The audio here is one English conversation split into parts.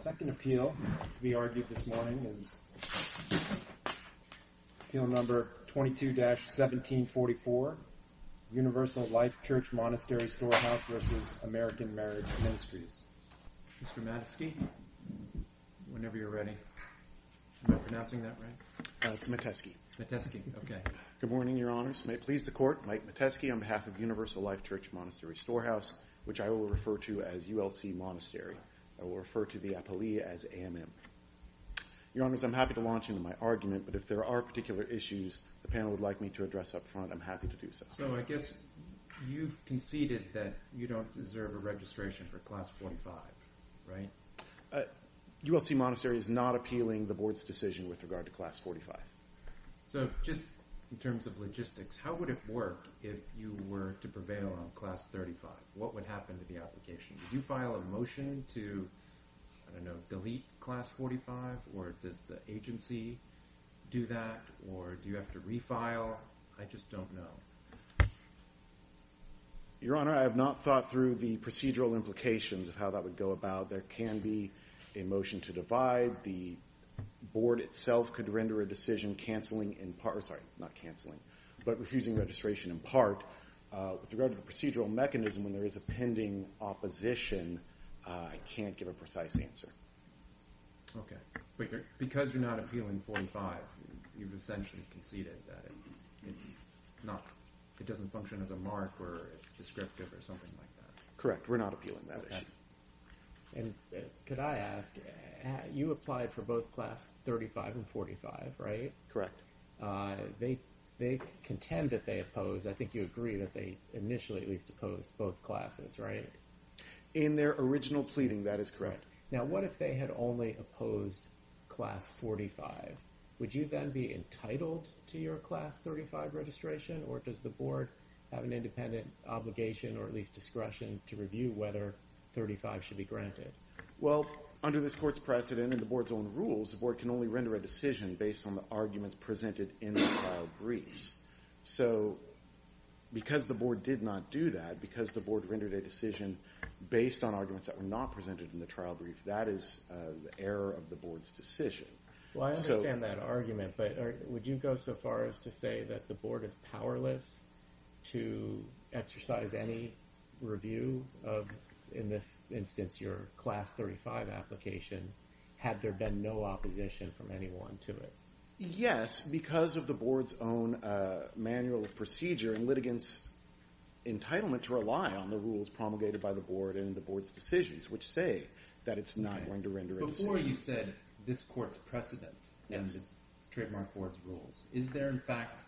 Second Appeal to be argued this morning is Appeal No. 22-1744, Universal Life Church Monastery Storehouse v. American Marriage Ministries. Mr. Matesky, whenever you're ready. Am I pronouncing that right? It's Matesky. Matesky, okay. Good morning, Your Honors. May it please the Court, Mike Matesky on behalf of Universal Life Church Monastery Storehouse, which I will refer to as ULC Monastery. I will refer to the appellee as AMM. Your Honors, I'm happy to launch into my argument, but if there are particular issues the panel would like me to address up front, I'm happy to do so. So I guess you've conceded that you don't deserve a registration for Class 45, right? ULC Monastery is not appealing the Board's decision with regard to Class 45. So just in terms of logistics, how would it work if you were to prevail on Class 35? What would happen to the application? Would you file a motion to, I don't know, delete Class 45, or does the agency do that, or do you have to refile? I just don't know. Your Honor, I have not thought through the procedural implications of how that would go about. There can be a motion to divide. The Board itself could render a decision cancelling in part, or sorry, not cancelling, but refusing registration in part. With regard to the procedural mechanism, when there is a pending opposition, I can't give a precise answer. Okay. But because you're not appealing 45, you've essentially conceded that it's not, it doesn't function as a mark, or it's descriptive, or something like that. Correct. We're not appealing that issue. And could I ask, you applied for both Class 35 and 45, right? Correct. They contend that they oppose, I think you agree that they initially at least opposed both classes, right? In their original pleading, that is correct. Now what if they had only opposed Class 45? Would you then be entitled to your Class 35 registration, or does the Board have an independent obligation, or at least discretion, to review whether 35 should be granted? Well, under this Court's precedent and the Board's own rules, the Board can only render a decision based on the arguments presented in the trial briefs. So, because the Board did not do that, because the Board rendered a decision based on arguments that were not presented in the trial brief, that is the error of the Board's decision. Well, I understand that argument, but would you go so far as to say that the Board is powerless to exercise any review of, in this instance, your Class 35 application, had there been no opposition from anyone to it? Yes, because of the Board's own manual of procedure and litigants' entitlement to rely on the rules promulgated by the Board and the Board's decisions, which say that it's not going to render a decision. Before you said this Court's precedent and the Trademark Court's rules, is there in fact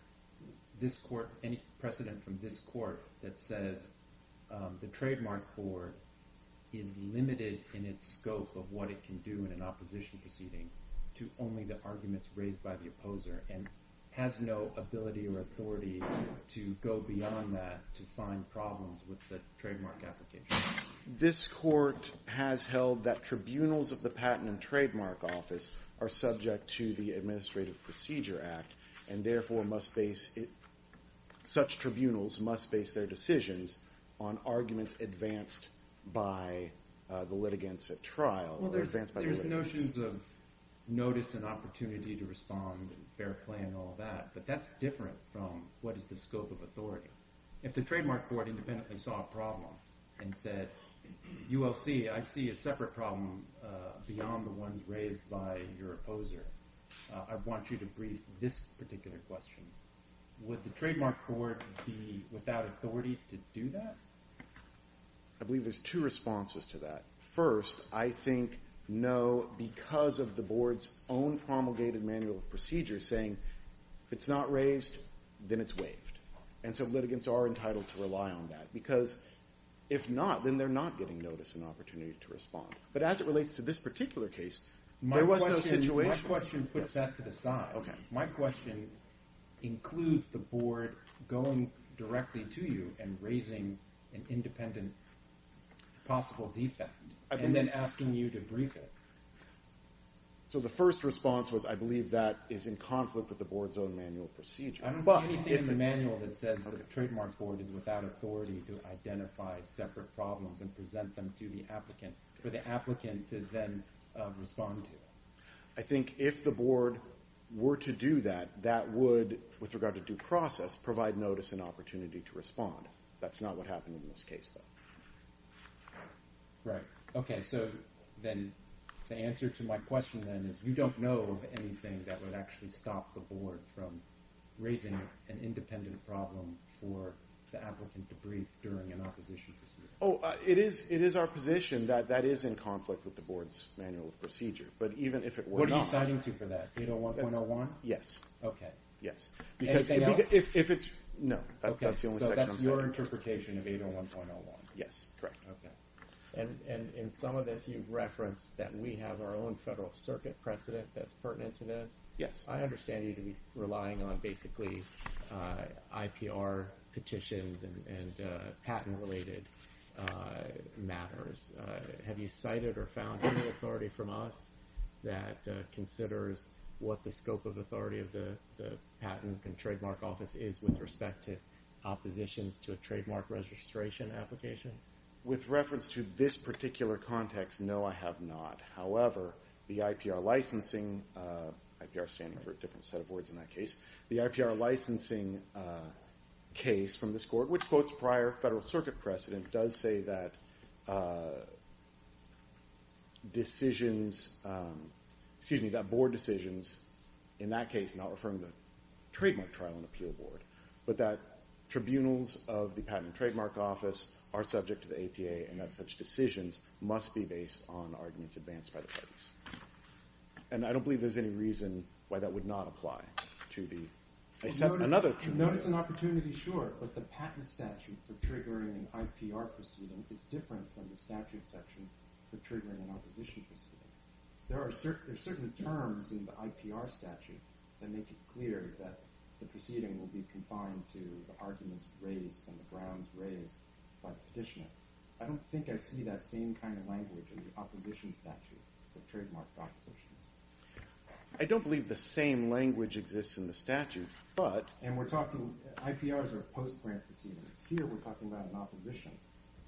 any precedent from this Court that says the Trademark Court is limited in its scope of what it can do in an opposition proceeding to only the arguments raised by the opposer, and has no ability or authority to go beyond that to find problems with the trademark application? This Court has held that tribunals of the Patent and Trademark Office are subject to the Administrative Procedure Act, and therefore, such tribunals must base their decisions on arguments advanced by the litigants at trial. Well, there's notions of notice and opportunity to respond and fair play and all that, but that's different from what is the scope of authority. If the Trademark Court independently saw a problem and said, ULC, I see a separate problem beyond the ones raised by your opposer, I want you to brief this particular question, would the Trademark Court be without authority to do that? I believe there's two responses to that. First, I think no, because of the Board's own promulgated manual of procedures saying, if it's not raised, then it's waived, and so litigants are entitled to rely on that, because if not, then they're not getting notice and opportunity to respond. But as it relates to this particular case, there was no situation. My question puts that to the side. My question includes the Board going directly to you and raising an independent possible defect, and then asking you to brief it. So the first response was, I believe that is in conflict with the Board's own manual of procedures. I don't see anything in the manual that says the Trademark Court is without authority to identify separate problems and present them to the applicant, for the applicant to then respond to. I think if the Board were to do that, that would, with regard to due process, provide notice and opportunity to respond. That's not what happened in this case, though. Right. OK. So then the answer to my question, then, is you don't know of anything that would actually stop the Board from raising an independent problem for the applicant to brief during an opposition procedure. Oh, it is our position that that is in conflict with the Board's manual of procedure. But even if it were not... What are you citing to for that? 801.01? Yes. OK. Anything else? That's the only section I'm citing. OK. So that's your interpretation of 801.01. Yes. Correct. OK. And in some of this, you've referenced that we have our own Federal Circuit precedent that's pertinent to this. Yes. I understand you to be relying on, basically, IPR petitions and patent-related matters. Have you cited or found any authority from us that considers what the scope of authority of the Patent and Trademark Office is with respect to oppositions to a trademark registration application? With reference to this particular context, no, I have not. However, the IPR licensing... IPR stands for a different set of words in that case. The IPR licensing case from this Court, which quotes prior Federal Circuit precedent, does say that decisions, excuse me, that board decisions in that case not referring to trademark trial and appeal board, but that tribunals of the Patent and Trademark Office are subject to the APA, and that such decisions must be based on arguments advanced by the parties. And I don't believe there's any reason why that would not apply to the... Notice an opportunity, sure, but the patent statute for triggering an IPR proceeding is different from the statute section for triggering an opposition proceeding. There are certain terms in the IPR statute that make it clear that the proceeding will be confined to the arguments raised and the grounds raised by the petitioner. I don't think I see that same kind of language in the opposition statute for trademark propositions. I don't believe the same language exists in the statute, but... And we're talking, IPRs are post-grant proceedings. Here we're talking about an opposition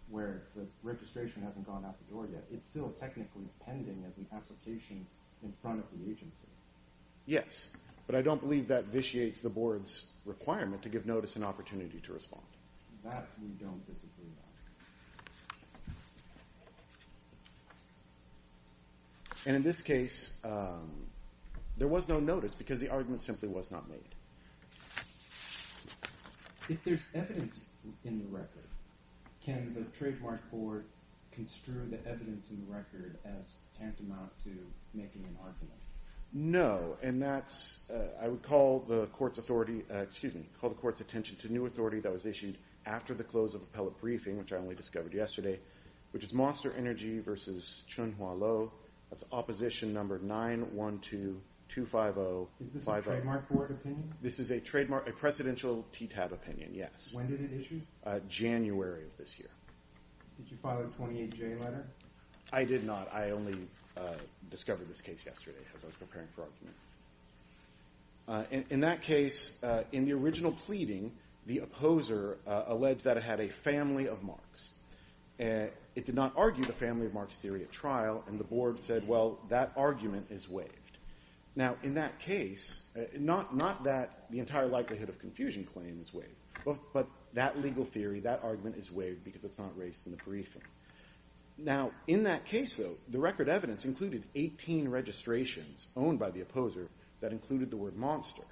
where the registration hasn't gone out the door yet. It's still technically pending as an application in front of the agency. Yes, but I don't believe that vitiates the board's requirement to give notice and opportunity to respond. That we don't disagree on. And in this case, there was no notice because the argument simply was not made. If there's evidence in the record, can the trademark court construe the evidence in the record as tantamount to making an argument? No, and that's... I would call the court's authority, excuse me, call the court's attention to new authority that was issued after the close of appellate briefing, which I only discovered yesterday, which is Monster Energy versus Chun Hwa Lo. That's opposition number 91225050. Is this a trademark court opinion? This is a trademark, a precedential TTAB opinion, yes. When did it issue? January of this year. Did you file a 28J letter? I did not. I only discovered this case yesterday as I was preparing for argument. In that case, in the original pleading, the opposer alleged that it had a family of marks. It did not argue the family of marks theory at trial, and the board said, well, that argument is waived. Now, in that case, not that the entire likelihood of confusion claim is waived, but that legal theory, that argument is waived because it's not raised in the briefing. Now, in that case, though, the record evidence included 18 registrations owned by the opposer that included the word monster,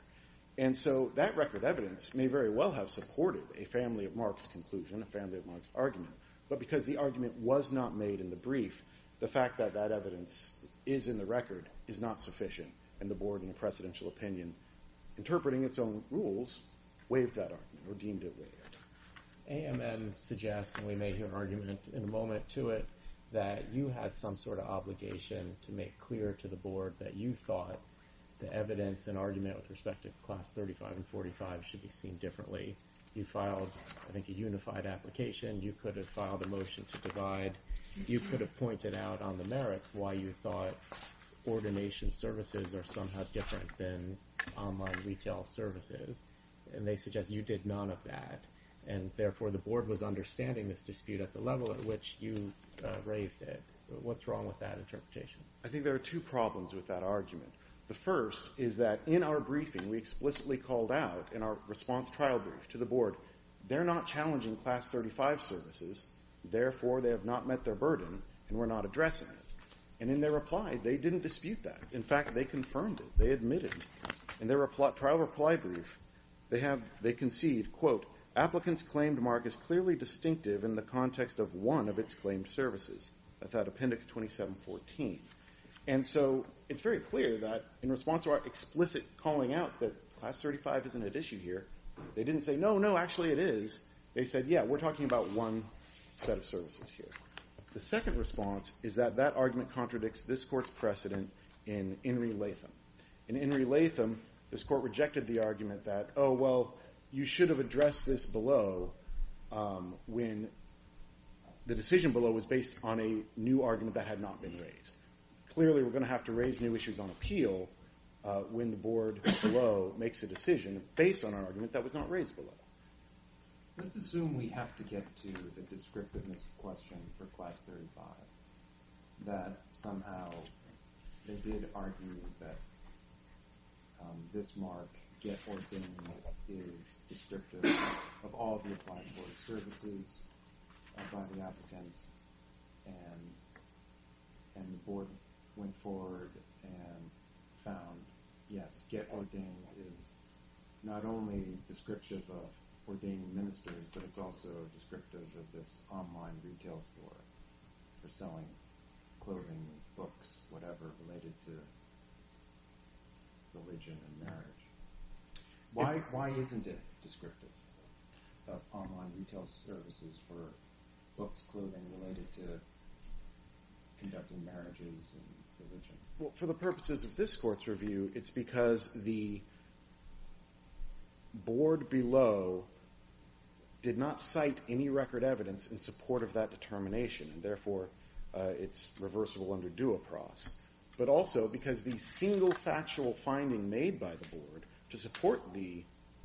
and so that record evidence may very well have supported a family of marks conclusion, a family of marks argument, but because the argument was not made in the brief, the fact that that evidence is in the record is not sufficient, and the board, in a precedential opinion, interpreting its own rules, waived that argument or deemed it waived. AMN suggests, and we may hear an argument in a moment to it, that you had some sort of obligation to make clear to the board that you thought the evidence and argument with respect to Class 35 and 45 should be seen differently. You filed, I think, a unified application. You could have filed a motion to divide. You could have pointed out on the merits why you thought ordination services are somehow different than online retail services, and they suggest you did none of that, and therefore the board was understanding this dispute at the level at which you raised it. What's wrong with that interpretation? I think there are two problems with that argument. The first is that in our briefing, we explicitly called out in our response trial brief to the board, they're not challenging Class 35 services, therefore they have not met their burden and we're not addressing it. And in their reply, they didn't dispute that. In fact, they confirmed it. They admitted it. In their trial reply brief, they concede, quote, applicants' claimed mark is clearly distinctive in the context of one of its claimed services. That's out of Appendix 2714. And so it's very clear that in response to our explicit calling out that Class 35 isn't at issue here, they didn't say, no, no, actually it is. They said, yeah, we're talking about one set of services here. The second response is that that argument contradicts this court's precedent in In Re Latham. In In Re Latham, this court rejected the argument that, oh, well, you should have addressed this below when the decision below was based on a new argument that had not been raised. Clearly, we're going to have to raise new issues on appeal when the board below makes a decision based on an argument that was not raised below. Let's assume we have to get to the descriptiveness question for Class 35, that somehow they did argue that this mark, Get Ordained, is descriptive of all the applied board services by the applicants. And the board went forward and found, yes, Get Ordained is not only descriptive of ordained ministers, but it's also descriptive of this online retail store for selling clothing, books, whatever, related to religion and marriage. Why isn't it descriptive of online retail services for books, clothing, related to conducting marriages and religion? Well, for the purposes of this court's review, it's because the board below did not cite any record evidence in support of that determination, and therefore it's reversible under due approach, but also because the single factual finding made by the board to support the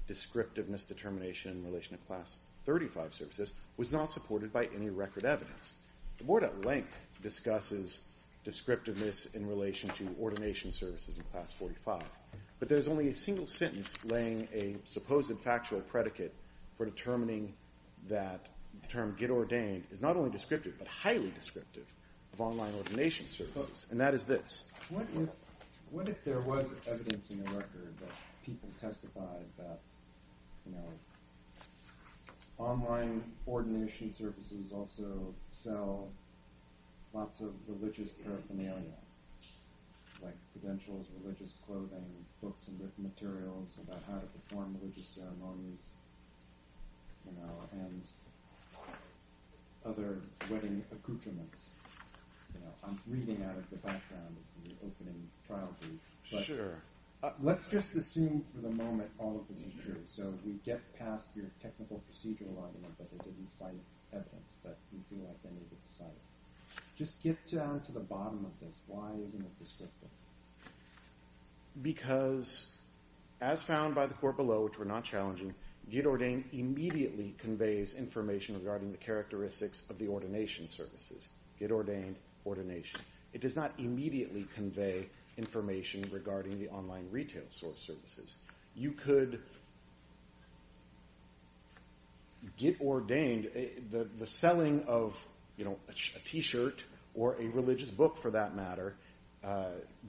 descriptiveness determination in relation to Class 35 services was not supported by any record evidence. The board at length discusses descriptiveness in relation to ordination services in Class 45, but there's only a single sentence laying a supposed factual predicate for determining that the term Get Ordained is not only descriptive, but highly descriptive of online ordination services, and that is this. What if there was evidence in the record that people testified that Online ordination services also sell lots of religious paraphernalia, like credentials, religious clothing, books and written materials about how to perform religious ceremonies, and other wedding accoutrements. I'm reading out of the background of the opening trial brief, but let's just assume for the moment all of this is true. So we get past your technical procedural argument that they didn't cite evidence, that you feel like they didn't cite it. Just get down to the bottom of this. Why isn't it descriptive? Because as found by the court below, which were not challenging, Get Ordained immediately conveys information regarding the characteristics of the ordination services. Get Ordained, ordination. It does not immediately convey information regarding the online retail source services. You could Get Ordained. The selling of a t-shirt, or a religious book for that matter,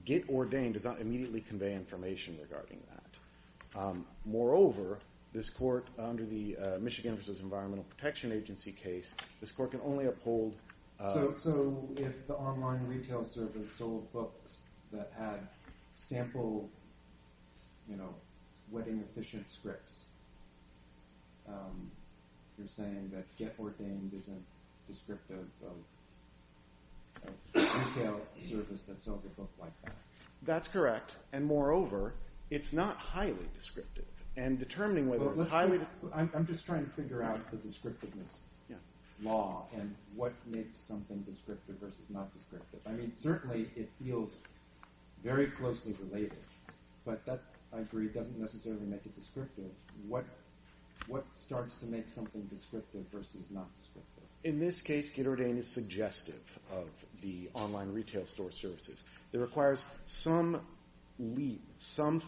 Get Ordained does not immediately convey information regarding that. Moreover, this court, under the Michigan versus Environmental Protection Agency case, this court can only uphold... So if the online retail service sold books that had sample wedding efficient scripts, you're saying that Get Ordained isn't descriptive of a retail service that sells a book like that. That's correct, and moreover, it's not highly descriptive. I'm just trying to figure out the descriptiveness law, and what makes something descriptive versus not descriptive. I mean, certainly it feels very closely related, but that, I agree, doesn't necessarily make it descriptive. What starts to make something descriptive versus not descriptive? In this case, Get Ordained is suggestive of the online retail store services. It requires some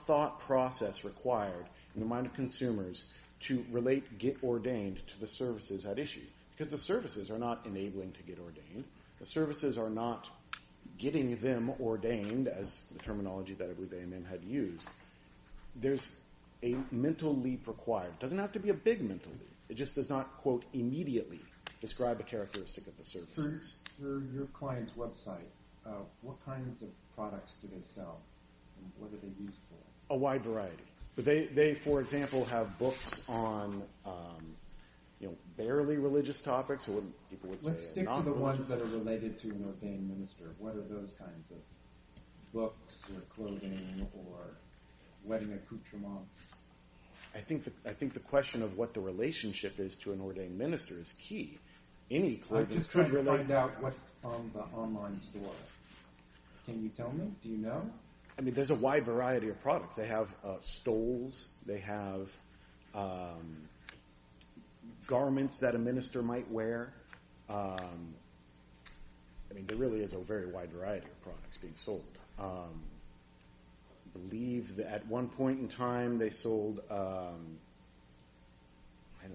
thought process required in the mind of consumers to relate Get Ordained to the services at issue. Because the services are not enabling to Get Ordained. The services are not getting them ordained, as the terminology that I believe A&M had used. There's a mental leap required. It doesn't have to be a big mental leap. It just does not, quote, immediately describe the characteristic of the services. For your client's website, what kinds of products do they sell, and what are they used for? A wide variety. They, for example, have books on barely religious topics. Let's stick to the ones that are related to an ordained minister. What are those kinds of books or clothing or wedding accoutrements? I think the question of what the relationship is to an ordained minister is key. I'm just trying to find out what's on the online store. Can you tell me? Do you know? I mean, there's a wide variety of products. They have stoles. They have garments that a minister might wear. I mean, there really is a very wide variety of products being sold. I believe that at one point in time, they sold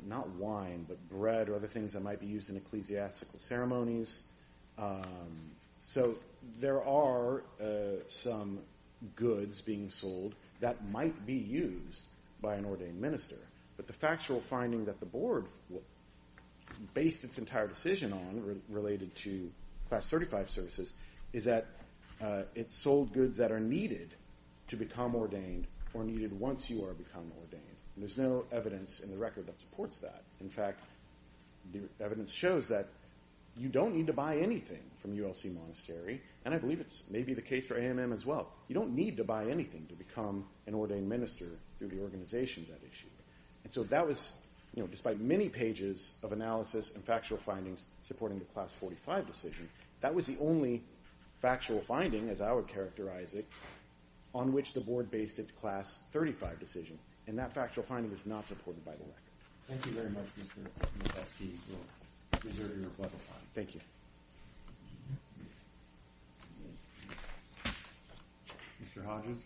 not wine, but bread or other things that might be used in ecclesiastical ceremonies. So there are some goods being sold that might be used by an ordained minister. But the factual finding that the board based its entire decision on related to Class 35 services is that it sold goods that are needed to become ordained or needed once you are become ordained. There's no evidence in the record that supports that. In fact, the evidence shows that you don't need to buy anything from ULC Monastery, and I believe it's maybe the case for AMM as well. You don't need to buy anything to become an ordained minister through the organization that issued it. And so that was, despite many pages of analysis and factual findings supporting the Class 45 decision, that was the only factual finding, as I would characterize it, on which the board based its Class 35 decision. And that factual finding is not supported by the record. Thank you very much, Mr. Eske, for reserving your pleasant time. Thank you. Mr. Hodges?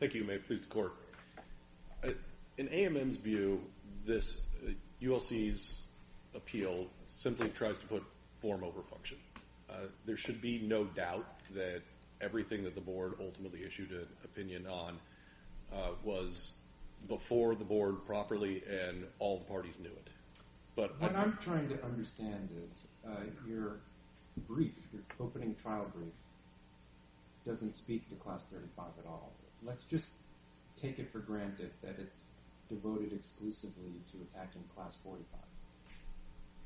Thank you. May it please the Court. In AMM's view, ULC's appeal simply tries to put form over function. There should be no doubt that everything that the board ultimately issued an opinion on was before the board properly, and all the parties knew it. What I'm trying to understand is your brief, your opening trial brief, doesn't speak to Class 35 at all. Let's just take it for granted that it's devoted exclusively to attacking Class 45.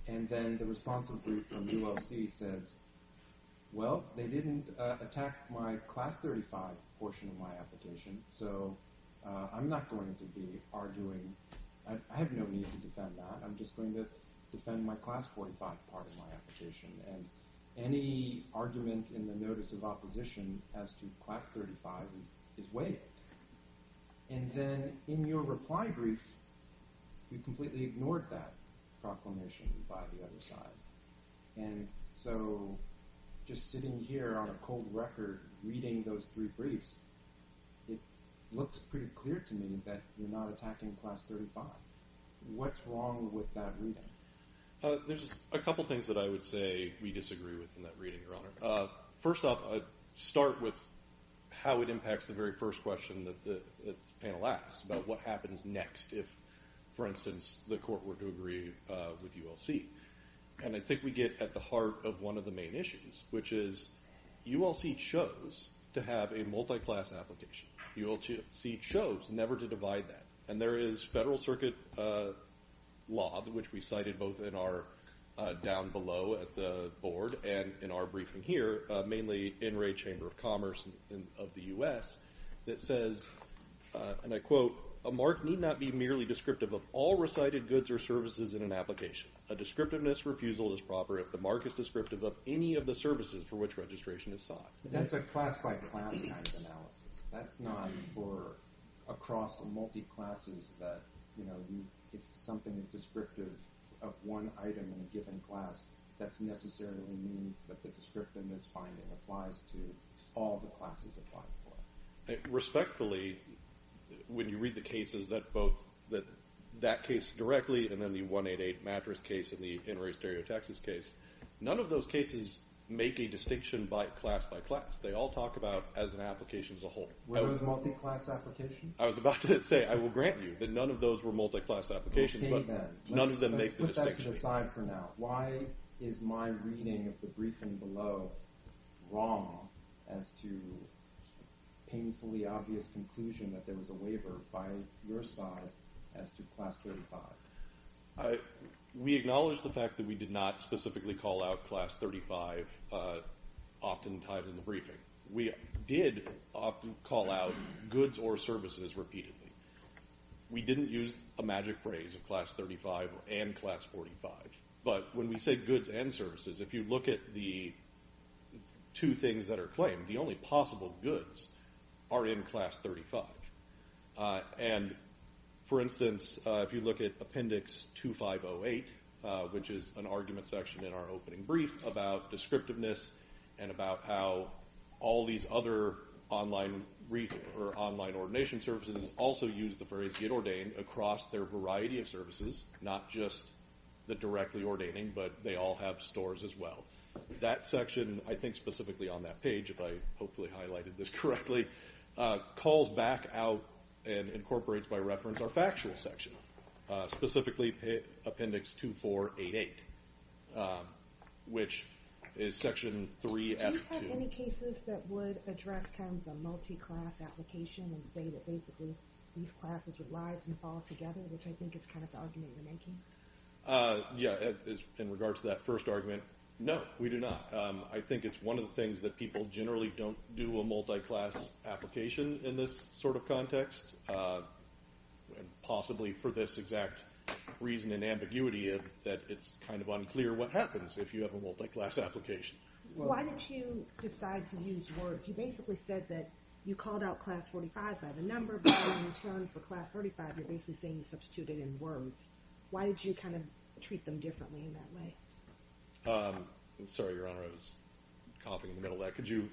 And then the responsive brief from ULC says, well, they didn't attack my Class 35 portion of my application, so I'm not going to be arguing – I have no need to defend that. I'm just going to defend my Class 45 part of my application. And any argument in the notice of opposition as to Class 35 is waived. And then in your reply brief, you completely ignored that proclamation by the other side. And so just sitting here on a cold record reading those three briefs, it looks pretty clear to me that you're not attacking Class 35. What's wrong with that reading? There's a couple things that I would say we disagree with in that reading, Your Honor. First off, I'd start with how it impacts the very first question that the panel asked about what happens next if, for instance, the court were to agree with ULC. And I think we get at the heart of one of the main issues, which is ULC chose to have a multi-class application. ULC chose never to divide that. And there is federal circuit law, which we cited both down below at the board and in our briefing here, mainly in Ray Chamber of Commerce of the U.S., that says, and I quote, a mark need not be merely descriptive of all recited goods or services in an application. A descriptiveness refusal is proper if the mark is descriptive of any of the services for which registration is sought. That's a class-by-class kind of analysis. That's not for across multi-classes that, you know, if something is descriptive of one item in a given class, that necessarily means that the descriptiveness finding applies to all the classes applied for. Respectfully, when you read the cases that both that case directly and then the 188 mattress case and the Enroy-Stereo, Texas case, none of those cases make a distinction by class-by-class. They all talk about as an application as a whole. Were those multi-class applications? I was about to say, I will grant you that none of those were multi-class applications, but none of them make the distinction. Let's put that to the side for now. Why is my reading of the briefing below wrong as to a painfully obvious conclusion that there was a waiver by your side as to Class 35? We acknowledge the fact that we did not specifically call out Class 35 oftentimes in the briefing. We did often call out goods or services repeatedly. We didn't use a magic phrase of Class 35 and Class 45. But when we say goods and services, if you look at the two things that are claimed, the only possible goods are in Class 35. And, for instance, if you look at Appendix 2508, which is an argument section in our opening brief about descriptiveness and about how all these other online ordination services also use the phrase get ordained across their variety of services, not just the directly ordaining, but they all have stores as well. That section, I think specifically on that page, if I hopefully highlighted this correctly, calls back out and incorporates by reference our factual section, specifically Appendix 2488, which is Section 3F2. Do you have any cases that would address kind of the multi-class application and say that basically these classes would rise and fall together, which I think is kind of the argument you're making? Yeah, in regards to that first argument, no, we do not. I think it's one of the things that people generally don't do a multi-class application in this sort of context, possibly for this exact reason and ambiguity that it's kind of unclear what happens if you have a multi-class application. Why did you decide to use words? You basically said that you called out Class 45 by the number, but when you returned for Class 35, you're basically saying you substituted in words. Why did you kind of treat them differently in that way? Sorry, Your Honor, I was coughing in the middle of that. Could you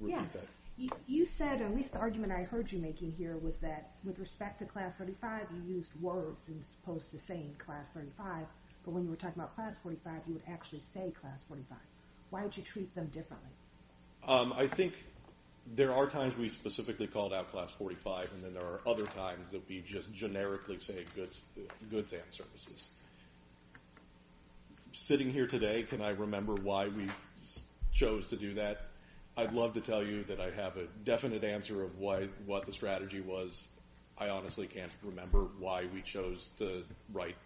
repeat that? Yeah. You said, or at least the argument I heard you making here was that with respect to Class 35, you used words as opposed to saying Class 35, but when you were talking about Class 45, you would actually say Class 45. Why would you treat them differently? I think there are times we specifically called out Class 45, and then there are other times that we just generically say goods and services. Sitting here today, can I remember why we chose to do that? I'd love to tell you that I have a definite answer of what the strategy was. I honestly can't remember why we chose to write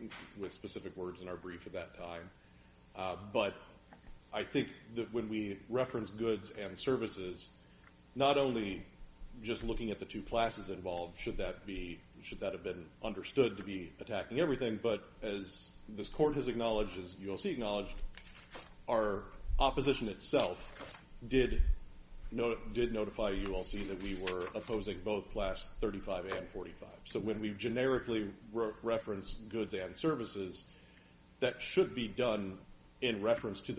with specific words in our brief at that time, but I think that when we reference goods and services, not only just looking at the two classes involved, should that have been understood to be attacking everything, but as this Court has acknowledged, as ULC acknowledged, our opposition itself did notify ULC that we were opposing both Class 35 and 45. So when we generically reference goods and services, that should be done in reference to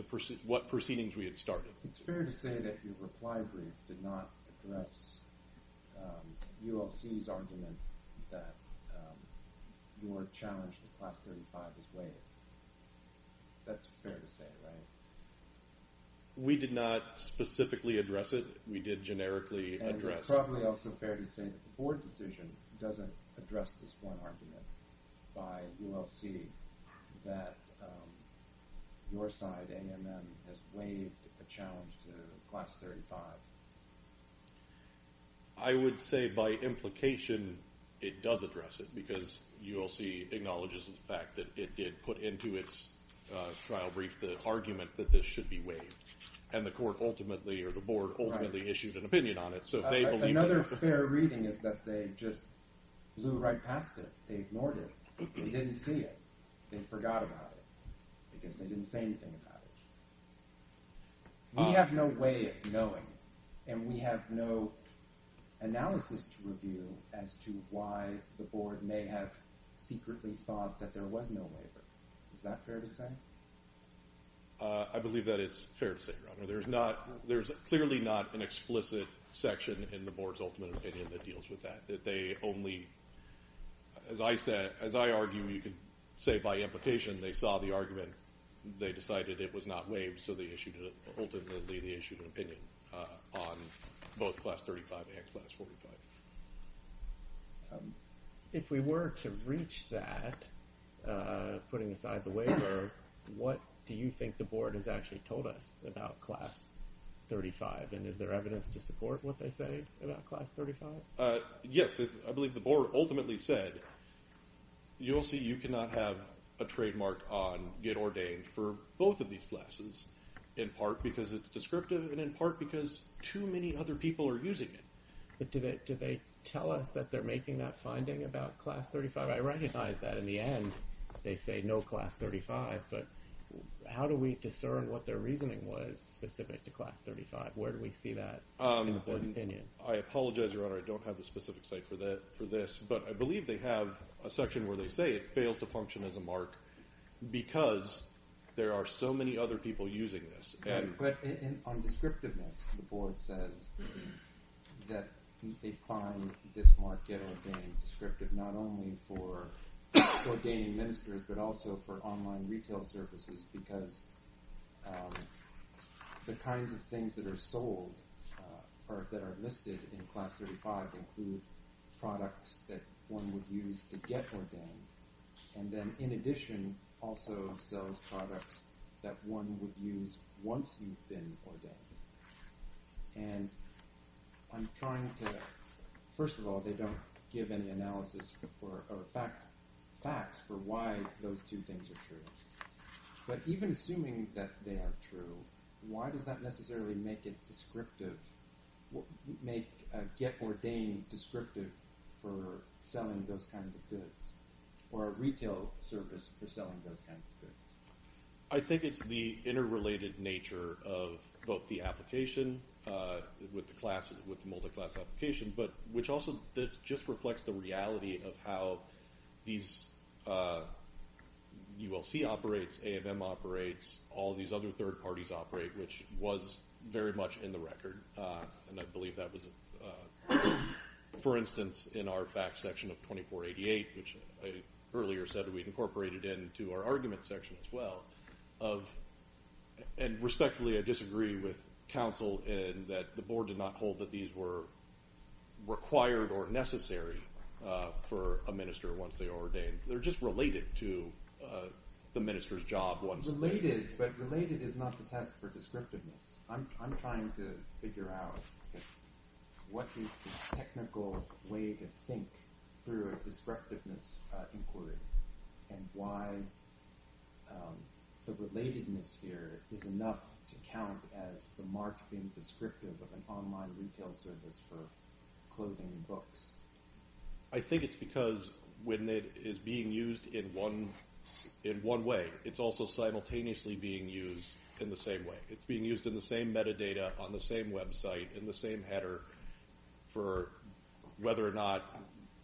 what proceedings we had started. It's fair to say that your reply brief did not address ULC's argument that your challenge to Class 35 is waived. That's fair to say, right? We did not specifically address it. We did generically address it. And it's probably also fair to say that the Board decision doesn't address this one argument by ULC that your side, AMM, has waived a challenge to Class 35. I would say by implication it does address it because ULC acknowledges the fact that it did put into its trial brief the argument that this should be waived. And the Court ultimately, or the Board ultimately, issued an opinion on it. Another fair reading is that they just blew right past it. They ignored it. They didn't see it. They forgot about it because they didn't say anything about it. We have no way of knowing, and we have no analysis to review, as to why the Board may have secretly thought that there was no waiver. Is that fair to say? I believe that it's fair to say, Your Honor. There's clearly not an explicit section in the Board's ultimate opinion that deals with that. That they only, as I said, as I argue, you could say by implication, they saw the argument, they decided it was not waived, so ultimately they issued an opinion on both Class 35 and Class 45. If we were to reach that, putting aside the waiver, what do you think the Board has actually told us about Class 35? And is there evidence to support what they say about Class 35? Yes, I believe the Board ultimately said, you'll see you cannot have a trademark on get ordained for both of these classes, in part because it's descriptive and in part because too many other people are using it. But do they tell us that they're making that finding about Class 35? I recognize that in the end they say no Class 35, but how do we discern what their reasoning was specific to Class 35? Where do we see that in the Board's opinion? I apologize, Your Honor, I don't have the specific site for this, but I believe they have a section where they say it fails to function as a mark because there are so many other people using this. But on descriptiveness, the Board says that they find this mark get ordained descriptive, not only for ordained ministers but also for online retail services because the kinds of things that are sold or that are listed in Class 35 include products that one would use to get ordained, and then in addition also sells products that one would use once you've been ordained. And I'm trying to – first of all, they don't give any analysis or facts for why those two things are true. But even assuming that they are true, why does that necessarily make it descriptive, make get ordained descriptive for selling those kinds of goods or a retail service for selling those kinds of goods? I think it's the interrelated nature of both the application with the multi-class application, which also just reflects the reality of how these ULC operates, A&M operates, all these other third parties operate, which was very much in the record. And I believe that was, for instance, in our facts section of 2488, which I earlier said that we'd incorporated into our argument section as well. And respectfully, I disagree with counsel in that the Board did not hold that these were required or necessary for a minister once they were ordained. They're just related to the minister's job once – Related, but related is not the test for descriptiveness. I'm trying to figure out what is the technical way to think through a descriptiveness inquiry and why the relatedness here is enough to count as the mark being descriptive of an online retail service for clothing and books. I think it's because when it is being used in one way, it's also simultaneously being used in the same way. It's being used in the same metadata, on the same website, in the same header for whether or not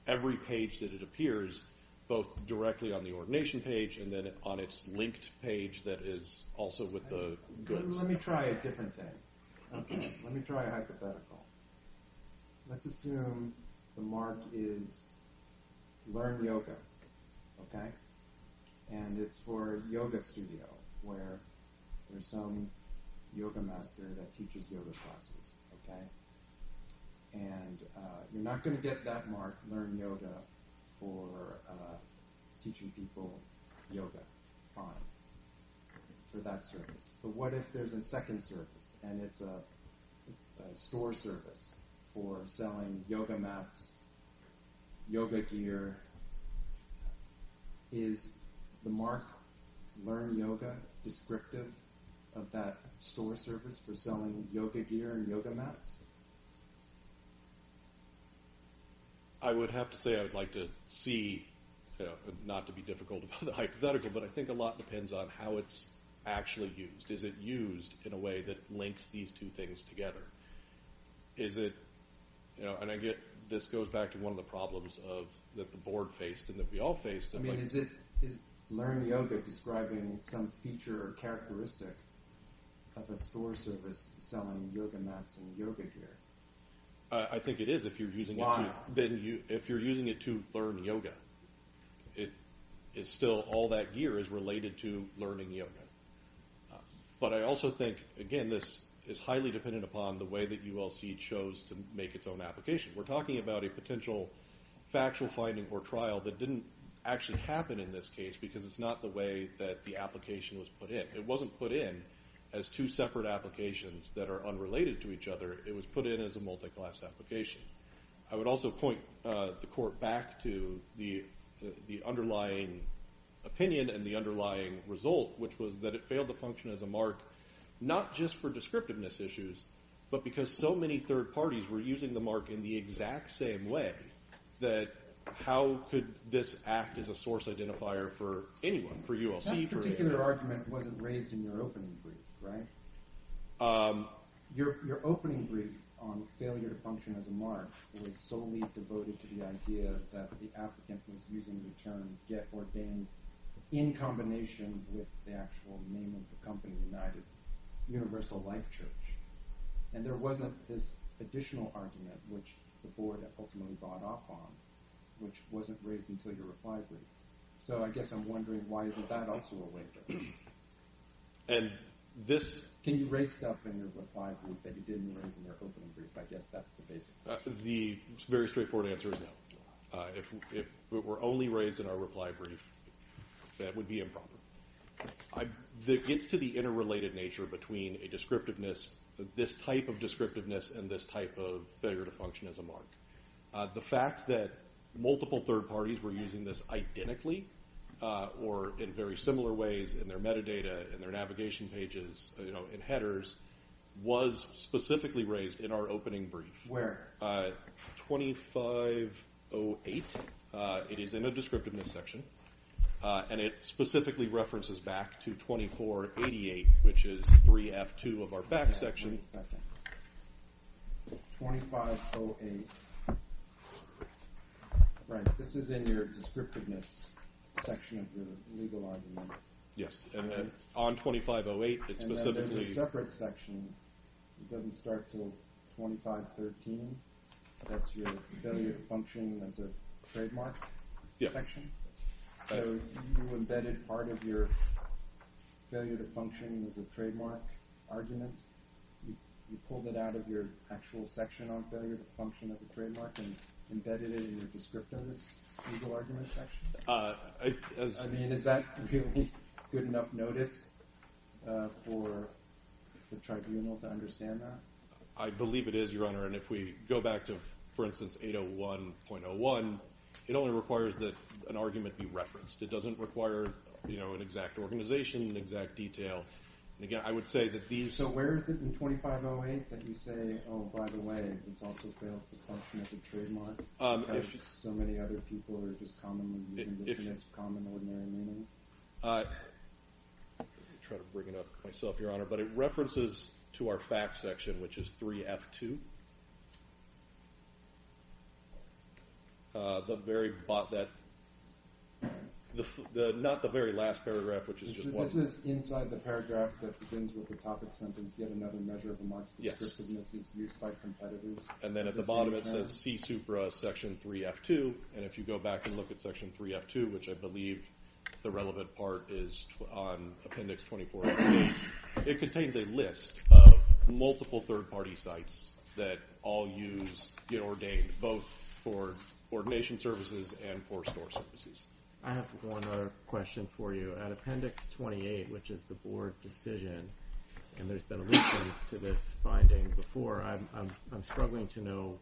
every page that it appears, both directly on the ordination page and then on its linked page that is also with the goods. Let me try a different thing. Let me try a hypothetical. Let's assume the mark is learn yoga. And it's for yoga studio where there's some yoga master that teaches yoga classes. And you're not going to get that mark, learn yoga, for teaching people yoga. For that service. But what if there's a second service and it's a store service for selling yoga mats, yoga gear. Is the mark learn yoga descriptive of that store service for selling yoga gear and yoga mats? I would have to say I would like to see, not to be difficult about the hypothetical, but I think a lot depends on how it's actually used. Is it used in a way that links these two things together? Is it, and I get this goes back to one of the problems that the board faced and that we all faced. Is learn yoga describing some feature or characteristic of a store service selling yoga mats and yoga gear? I think it is if you're using it to learn yoga. It is still all that gear is related to learning yoga. But I also think, again, this is highly dependent upon the way that ULC chose to make its own application. We're talking about a potential factual finding or trial that didn't actually happen in this case because it's not the way that the application was put in. It wasn't put in as two separate applications that are unrelated to each other. It was put in as a multi-class application. I would also point the court back to the underlying opinion and the underlying result, which was that it failed to function as a mark not just for descriptiveness issues, but because so many third parties were using the mark in the exact same way that how could this act as a source identifier for anyone, for ULC? That particular argument wasn't raised in your opening brief, right? Your opening brief on failure to function as a mark was solely devoted to the idea that the applicant was using the term get ordained in combination with the actual name of the company United Universal Life Church. And there wasn't this additional argument, which the board ultimately bought off on, which wasn't raised until your reply brief. So I guess I'm wondering why isn't that also a way? Can you raise stuff in your reply brief that you didn't raise in your opening brief? I guess that's the basic question. The very straightforward answer is no. If it were only raised in our reply brief, that would be improper. It gets to the interrelated nature between a descriptiveness, this type of descriptiveness and this type of failure to function as a mark. The fact that multiple third parties were using this identically or in very similar ways in their metadata, in their navigation pages, in headers, was specifically raised in our opening brief. Where? 2508. It is in a descriptiveness section, and it specifically references back to 2488, which is 3F2 of our back section. Wait a second. 2508. Right. This is in your descriptiveness section of your legal argument. Yes. And then on 2508, it's specifically… And then there's a separate section. It doesn't start until 2513. That's your failure to function as a trademark section. Yes. So you embedded part of your failure to function as a trademark argument. You pulled it out of your actual section on failure to function as a trademark and embedded it in your descriptiveness legal argument section? I mean, is that really good enough notice for the tribunal to understand that? I believe it is, Your Honor, and if we go back to, for instance, 801.01, it only requires that an argument be referenced. It doesn't require an exact organization, an exact detail. And, again, I would say that these… So where is it in 2508 that you say, oh, by the way, this also fails to function as a trademark because so many other people are just commonly using this in its common, ordinary meaning? I'm trying to bring it up myself, Your Honor, but it references to our fact section, which is 3F2. Not the very last paragraph, which is just one. So this is inside the paragraph that begins with the topic sentence, given that a measure of a mark's descriptiveness is used by competitors. And then at the bottom it says, see Supra section 3F2. And if you go back and look at section 3F2, which I believe the relevant part is on Appendix 24, it contains a list of multiple third-party sites that all use, get ordained, both for ordination services and for store services. I have one other question for you. So at Appendix 28, which is the Board decision, and there's been allusion to this finding before, I'm struggling to know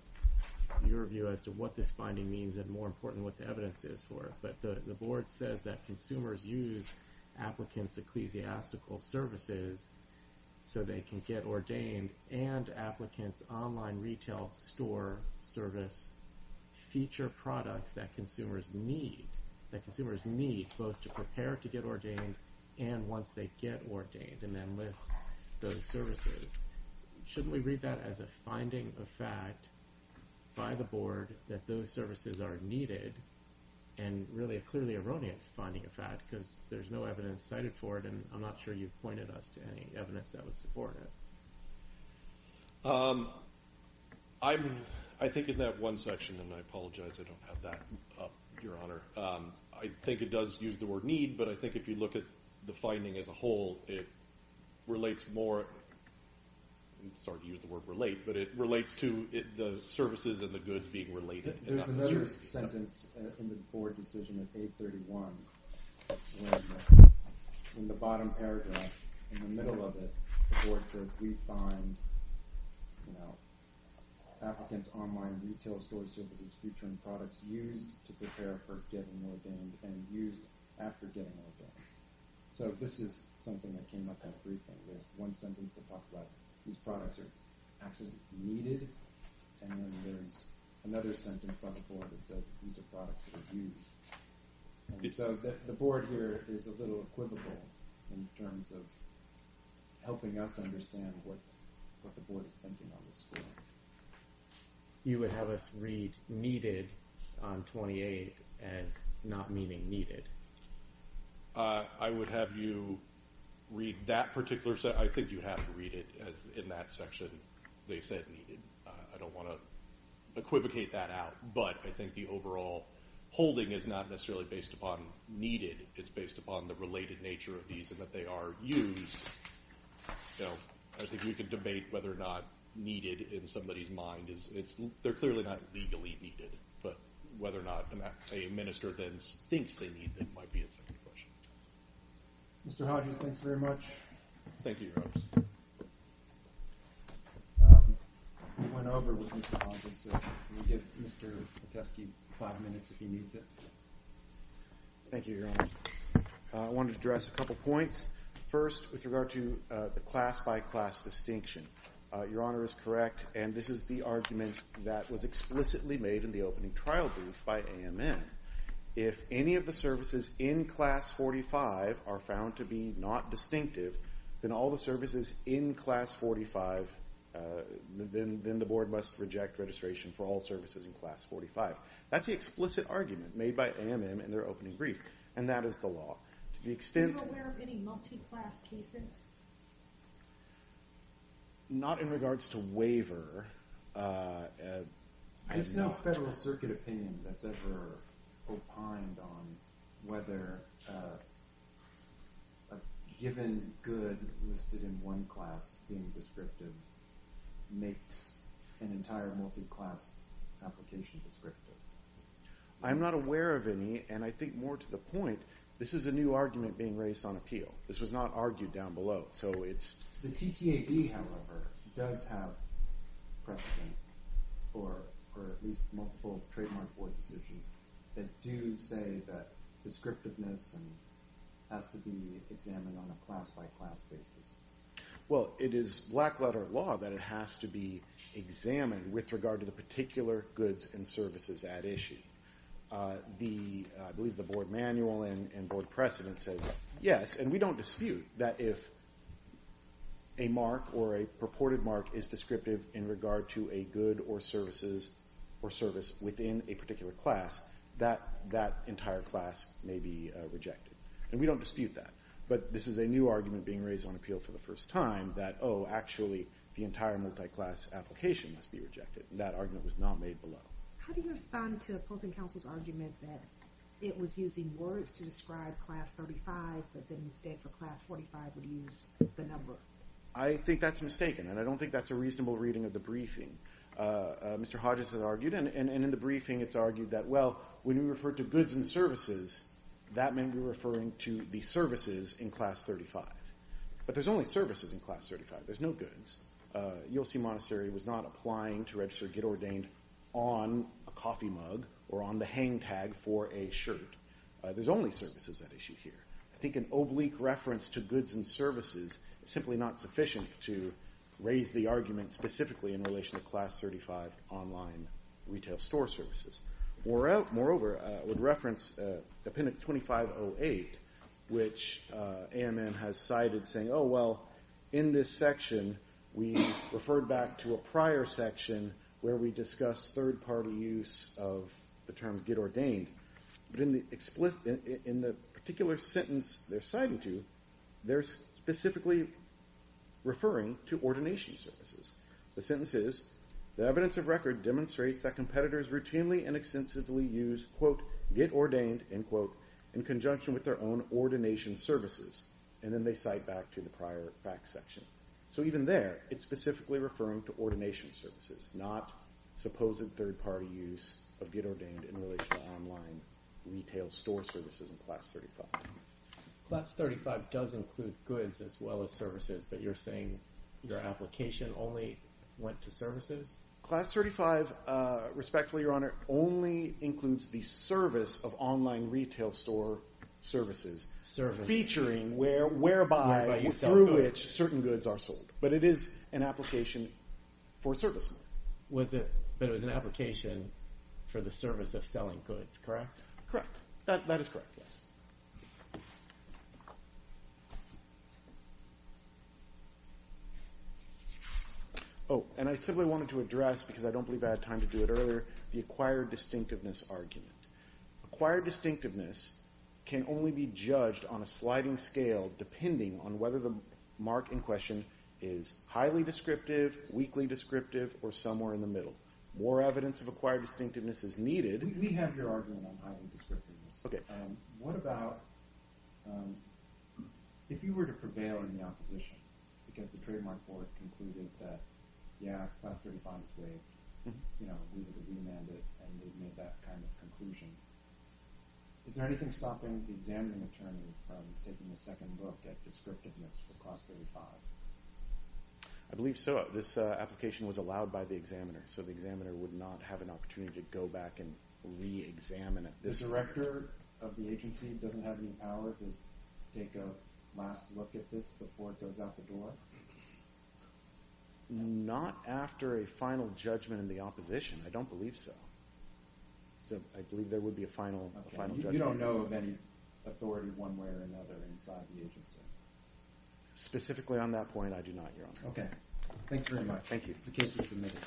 your view as to what this finding means and, more important, what the evidence is for it. But the Board says that consumers use applicants' ecclesiastical services so they can get ordained, and applicants' online retail store service feature products that consumers need, both to prepare to get ordained and once they get ordained, and then list those services. Shouldn't we read that as a finding of fact by the Board that those services are needed, and really a clearly erroneous finding of fact because there's no evidence cited for it, and I'm not sure you've pointed us to any evidence that would support it. I think in that one section, and I apologize I don't have that up, Your Honor, I think it does use the word need, but I think if you look at the finding as a whole, it relates more to the services and the goods being related. There's another sentence in the Board decision of 831 where in the bottom paragraph, in the middle of it, the Board says, we find applicants' online retail store services featuring products used to prepare for getting ordained and used after getting ordained. So this is something that came up quite frequently, one sentence that talks about these products are absolutely needed, and then there's another sentence by the Board that says these are products that are used. So the Board here is a little equivocal in terms of helping us understand what the Board is thinking on this score. You would have us read needed on 28 as not meaning needed. I would have you read that particular section. I think you have to read it in that section. They said needed. I don't want to equivocate that out, but I think the overall holding is not necessarily based upon needed. It's based upon the related nature of these and that they are used. I think we can debate whether or not needed in somebody's mind. They're clearly not legally needed, but whether or not a minister then thinks they need them might be a second question. Mr. Hodges, thanks very much. Thank you, Your Honors. We went over with Mr. Hodges, so we'll give Mr. Petesky five minutes if he needs it. Thank you, Your Honor. I wanted to address a couple points. First, with regard to the class-by-class distinction, Your Honor is correct, and this is the argument that was explicitly made in the opening trial brief by AMN. If any of the services in Class 45 are found to be not distinctive, then all the services in Class 45, then the board must reject registration for all services in Class 45. That's the explicit argument made by AMN in their opening brief, and that is the law. Are you aware of any multi-class cases? Not in regards to waiver. There's no Federal Circuit opinion that's ever opined on whether a given good listed in one class being descriptive makes an entire multi-class application descriptive. I'm not aware of any, and I think more to the point, this is a new argument being raised on appeal. This was not argued down below. The TTAB, however, does have precedent for at least multiple trademark board decisions that do say that descriptiveness has to be examined on a class-by-class basis. Well, it is black-letter law that it has to be examined with regard to the particular goods and services at issue. I believe the board manual and board precedent says yes, and we don't dispute that if a mark or a purported mark is descriptive in regard to a good or service within a particular class, that that entire class may be rejected, and we don't dispute that. But this is a new argument being raised on appeal for the first time that, oh, actually, the entire multi-class application must be rejected. That argument was not made below. How do you respond to opposing counsel's argument that it was using words to describe Class 35, but the mistake of Class 45 would use the number? I think that's mistaken, and I don't think that's a reasonable reading of the briefing. Mr. Hodges has argued, and in the briefing it's argued that, well, when you refer to goods and services, that may be referring to the services in Class 35. But there's only services in Class 35. There's no goods. ULC Monastery was not applying to register Get Ordained on a coffee mug or on the hang tag for a shirt. There's only services at issue here. I think an oblique reference to goods and services is simply not sufficient to raise the argument specifically in relation to Class 35 online retail store services. Moreover, I would reference Appendix 2508, which AMN has cited saying, oh, well, in this section, we referred back to a prior section where we discussed third-party use of the term Get Ordained, but in the particular sentence they're citing to, they're specifically referring to ordination services. The sentence is, the evidence of record demonstrates that competitors routinely and extensively use, quote, Get Ordained, end quote, in conjunction with their own ordination services. And then they cite back to the prior facts section. So even there, it's specifically referring to ordination services, not supposed third-party use of Get Ordained in relation to online retail store services in Class 35. Class 35 does include goods as well as services, but you're saying your application only went to services? Class 35, respectfully, Your Honor, only includes the service of online retail store services, featuring whereby through which certain goods are sold. But it is an application for service. But it was an application for the service of selling goods, correct? Correct. That is correct, yes. Oh, and I simply wanted to address, because I don't believe I had time to do it earlier, the acquired distinctiveness argument. Acquired distinctiveness can only be judged on a sliding scale depending on whether the mark in question is highly descriptive, weakly descriptive, or somewhere in the middle. More evidence of acquired distinctiveness is needed. We have your argument on highly descriptiveness. Okay. What about if you were to prevail in the opposition, because the trademark court concluded that, yeah, Class 35 is great, you know, we would have remanded it, and they've made that kind of conclusion. Is there anything stopping the examining attorney from taking a second look at descriptiveness for Class 35? I believe so. This application was allowed by the examiner, so the examiner would not have an opportunity to go back and re-examine it. The director of the agency doesn't have any power to take a last look at this before it goes out the door? Not after a final judgment in the opposition. I don't believe so. I believe there would be a final judgment. You don't know of any authority one way or another inside the agency? Specifically on that point, I do not, Your Honor. Okay. Thanks very much. Thank you.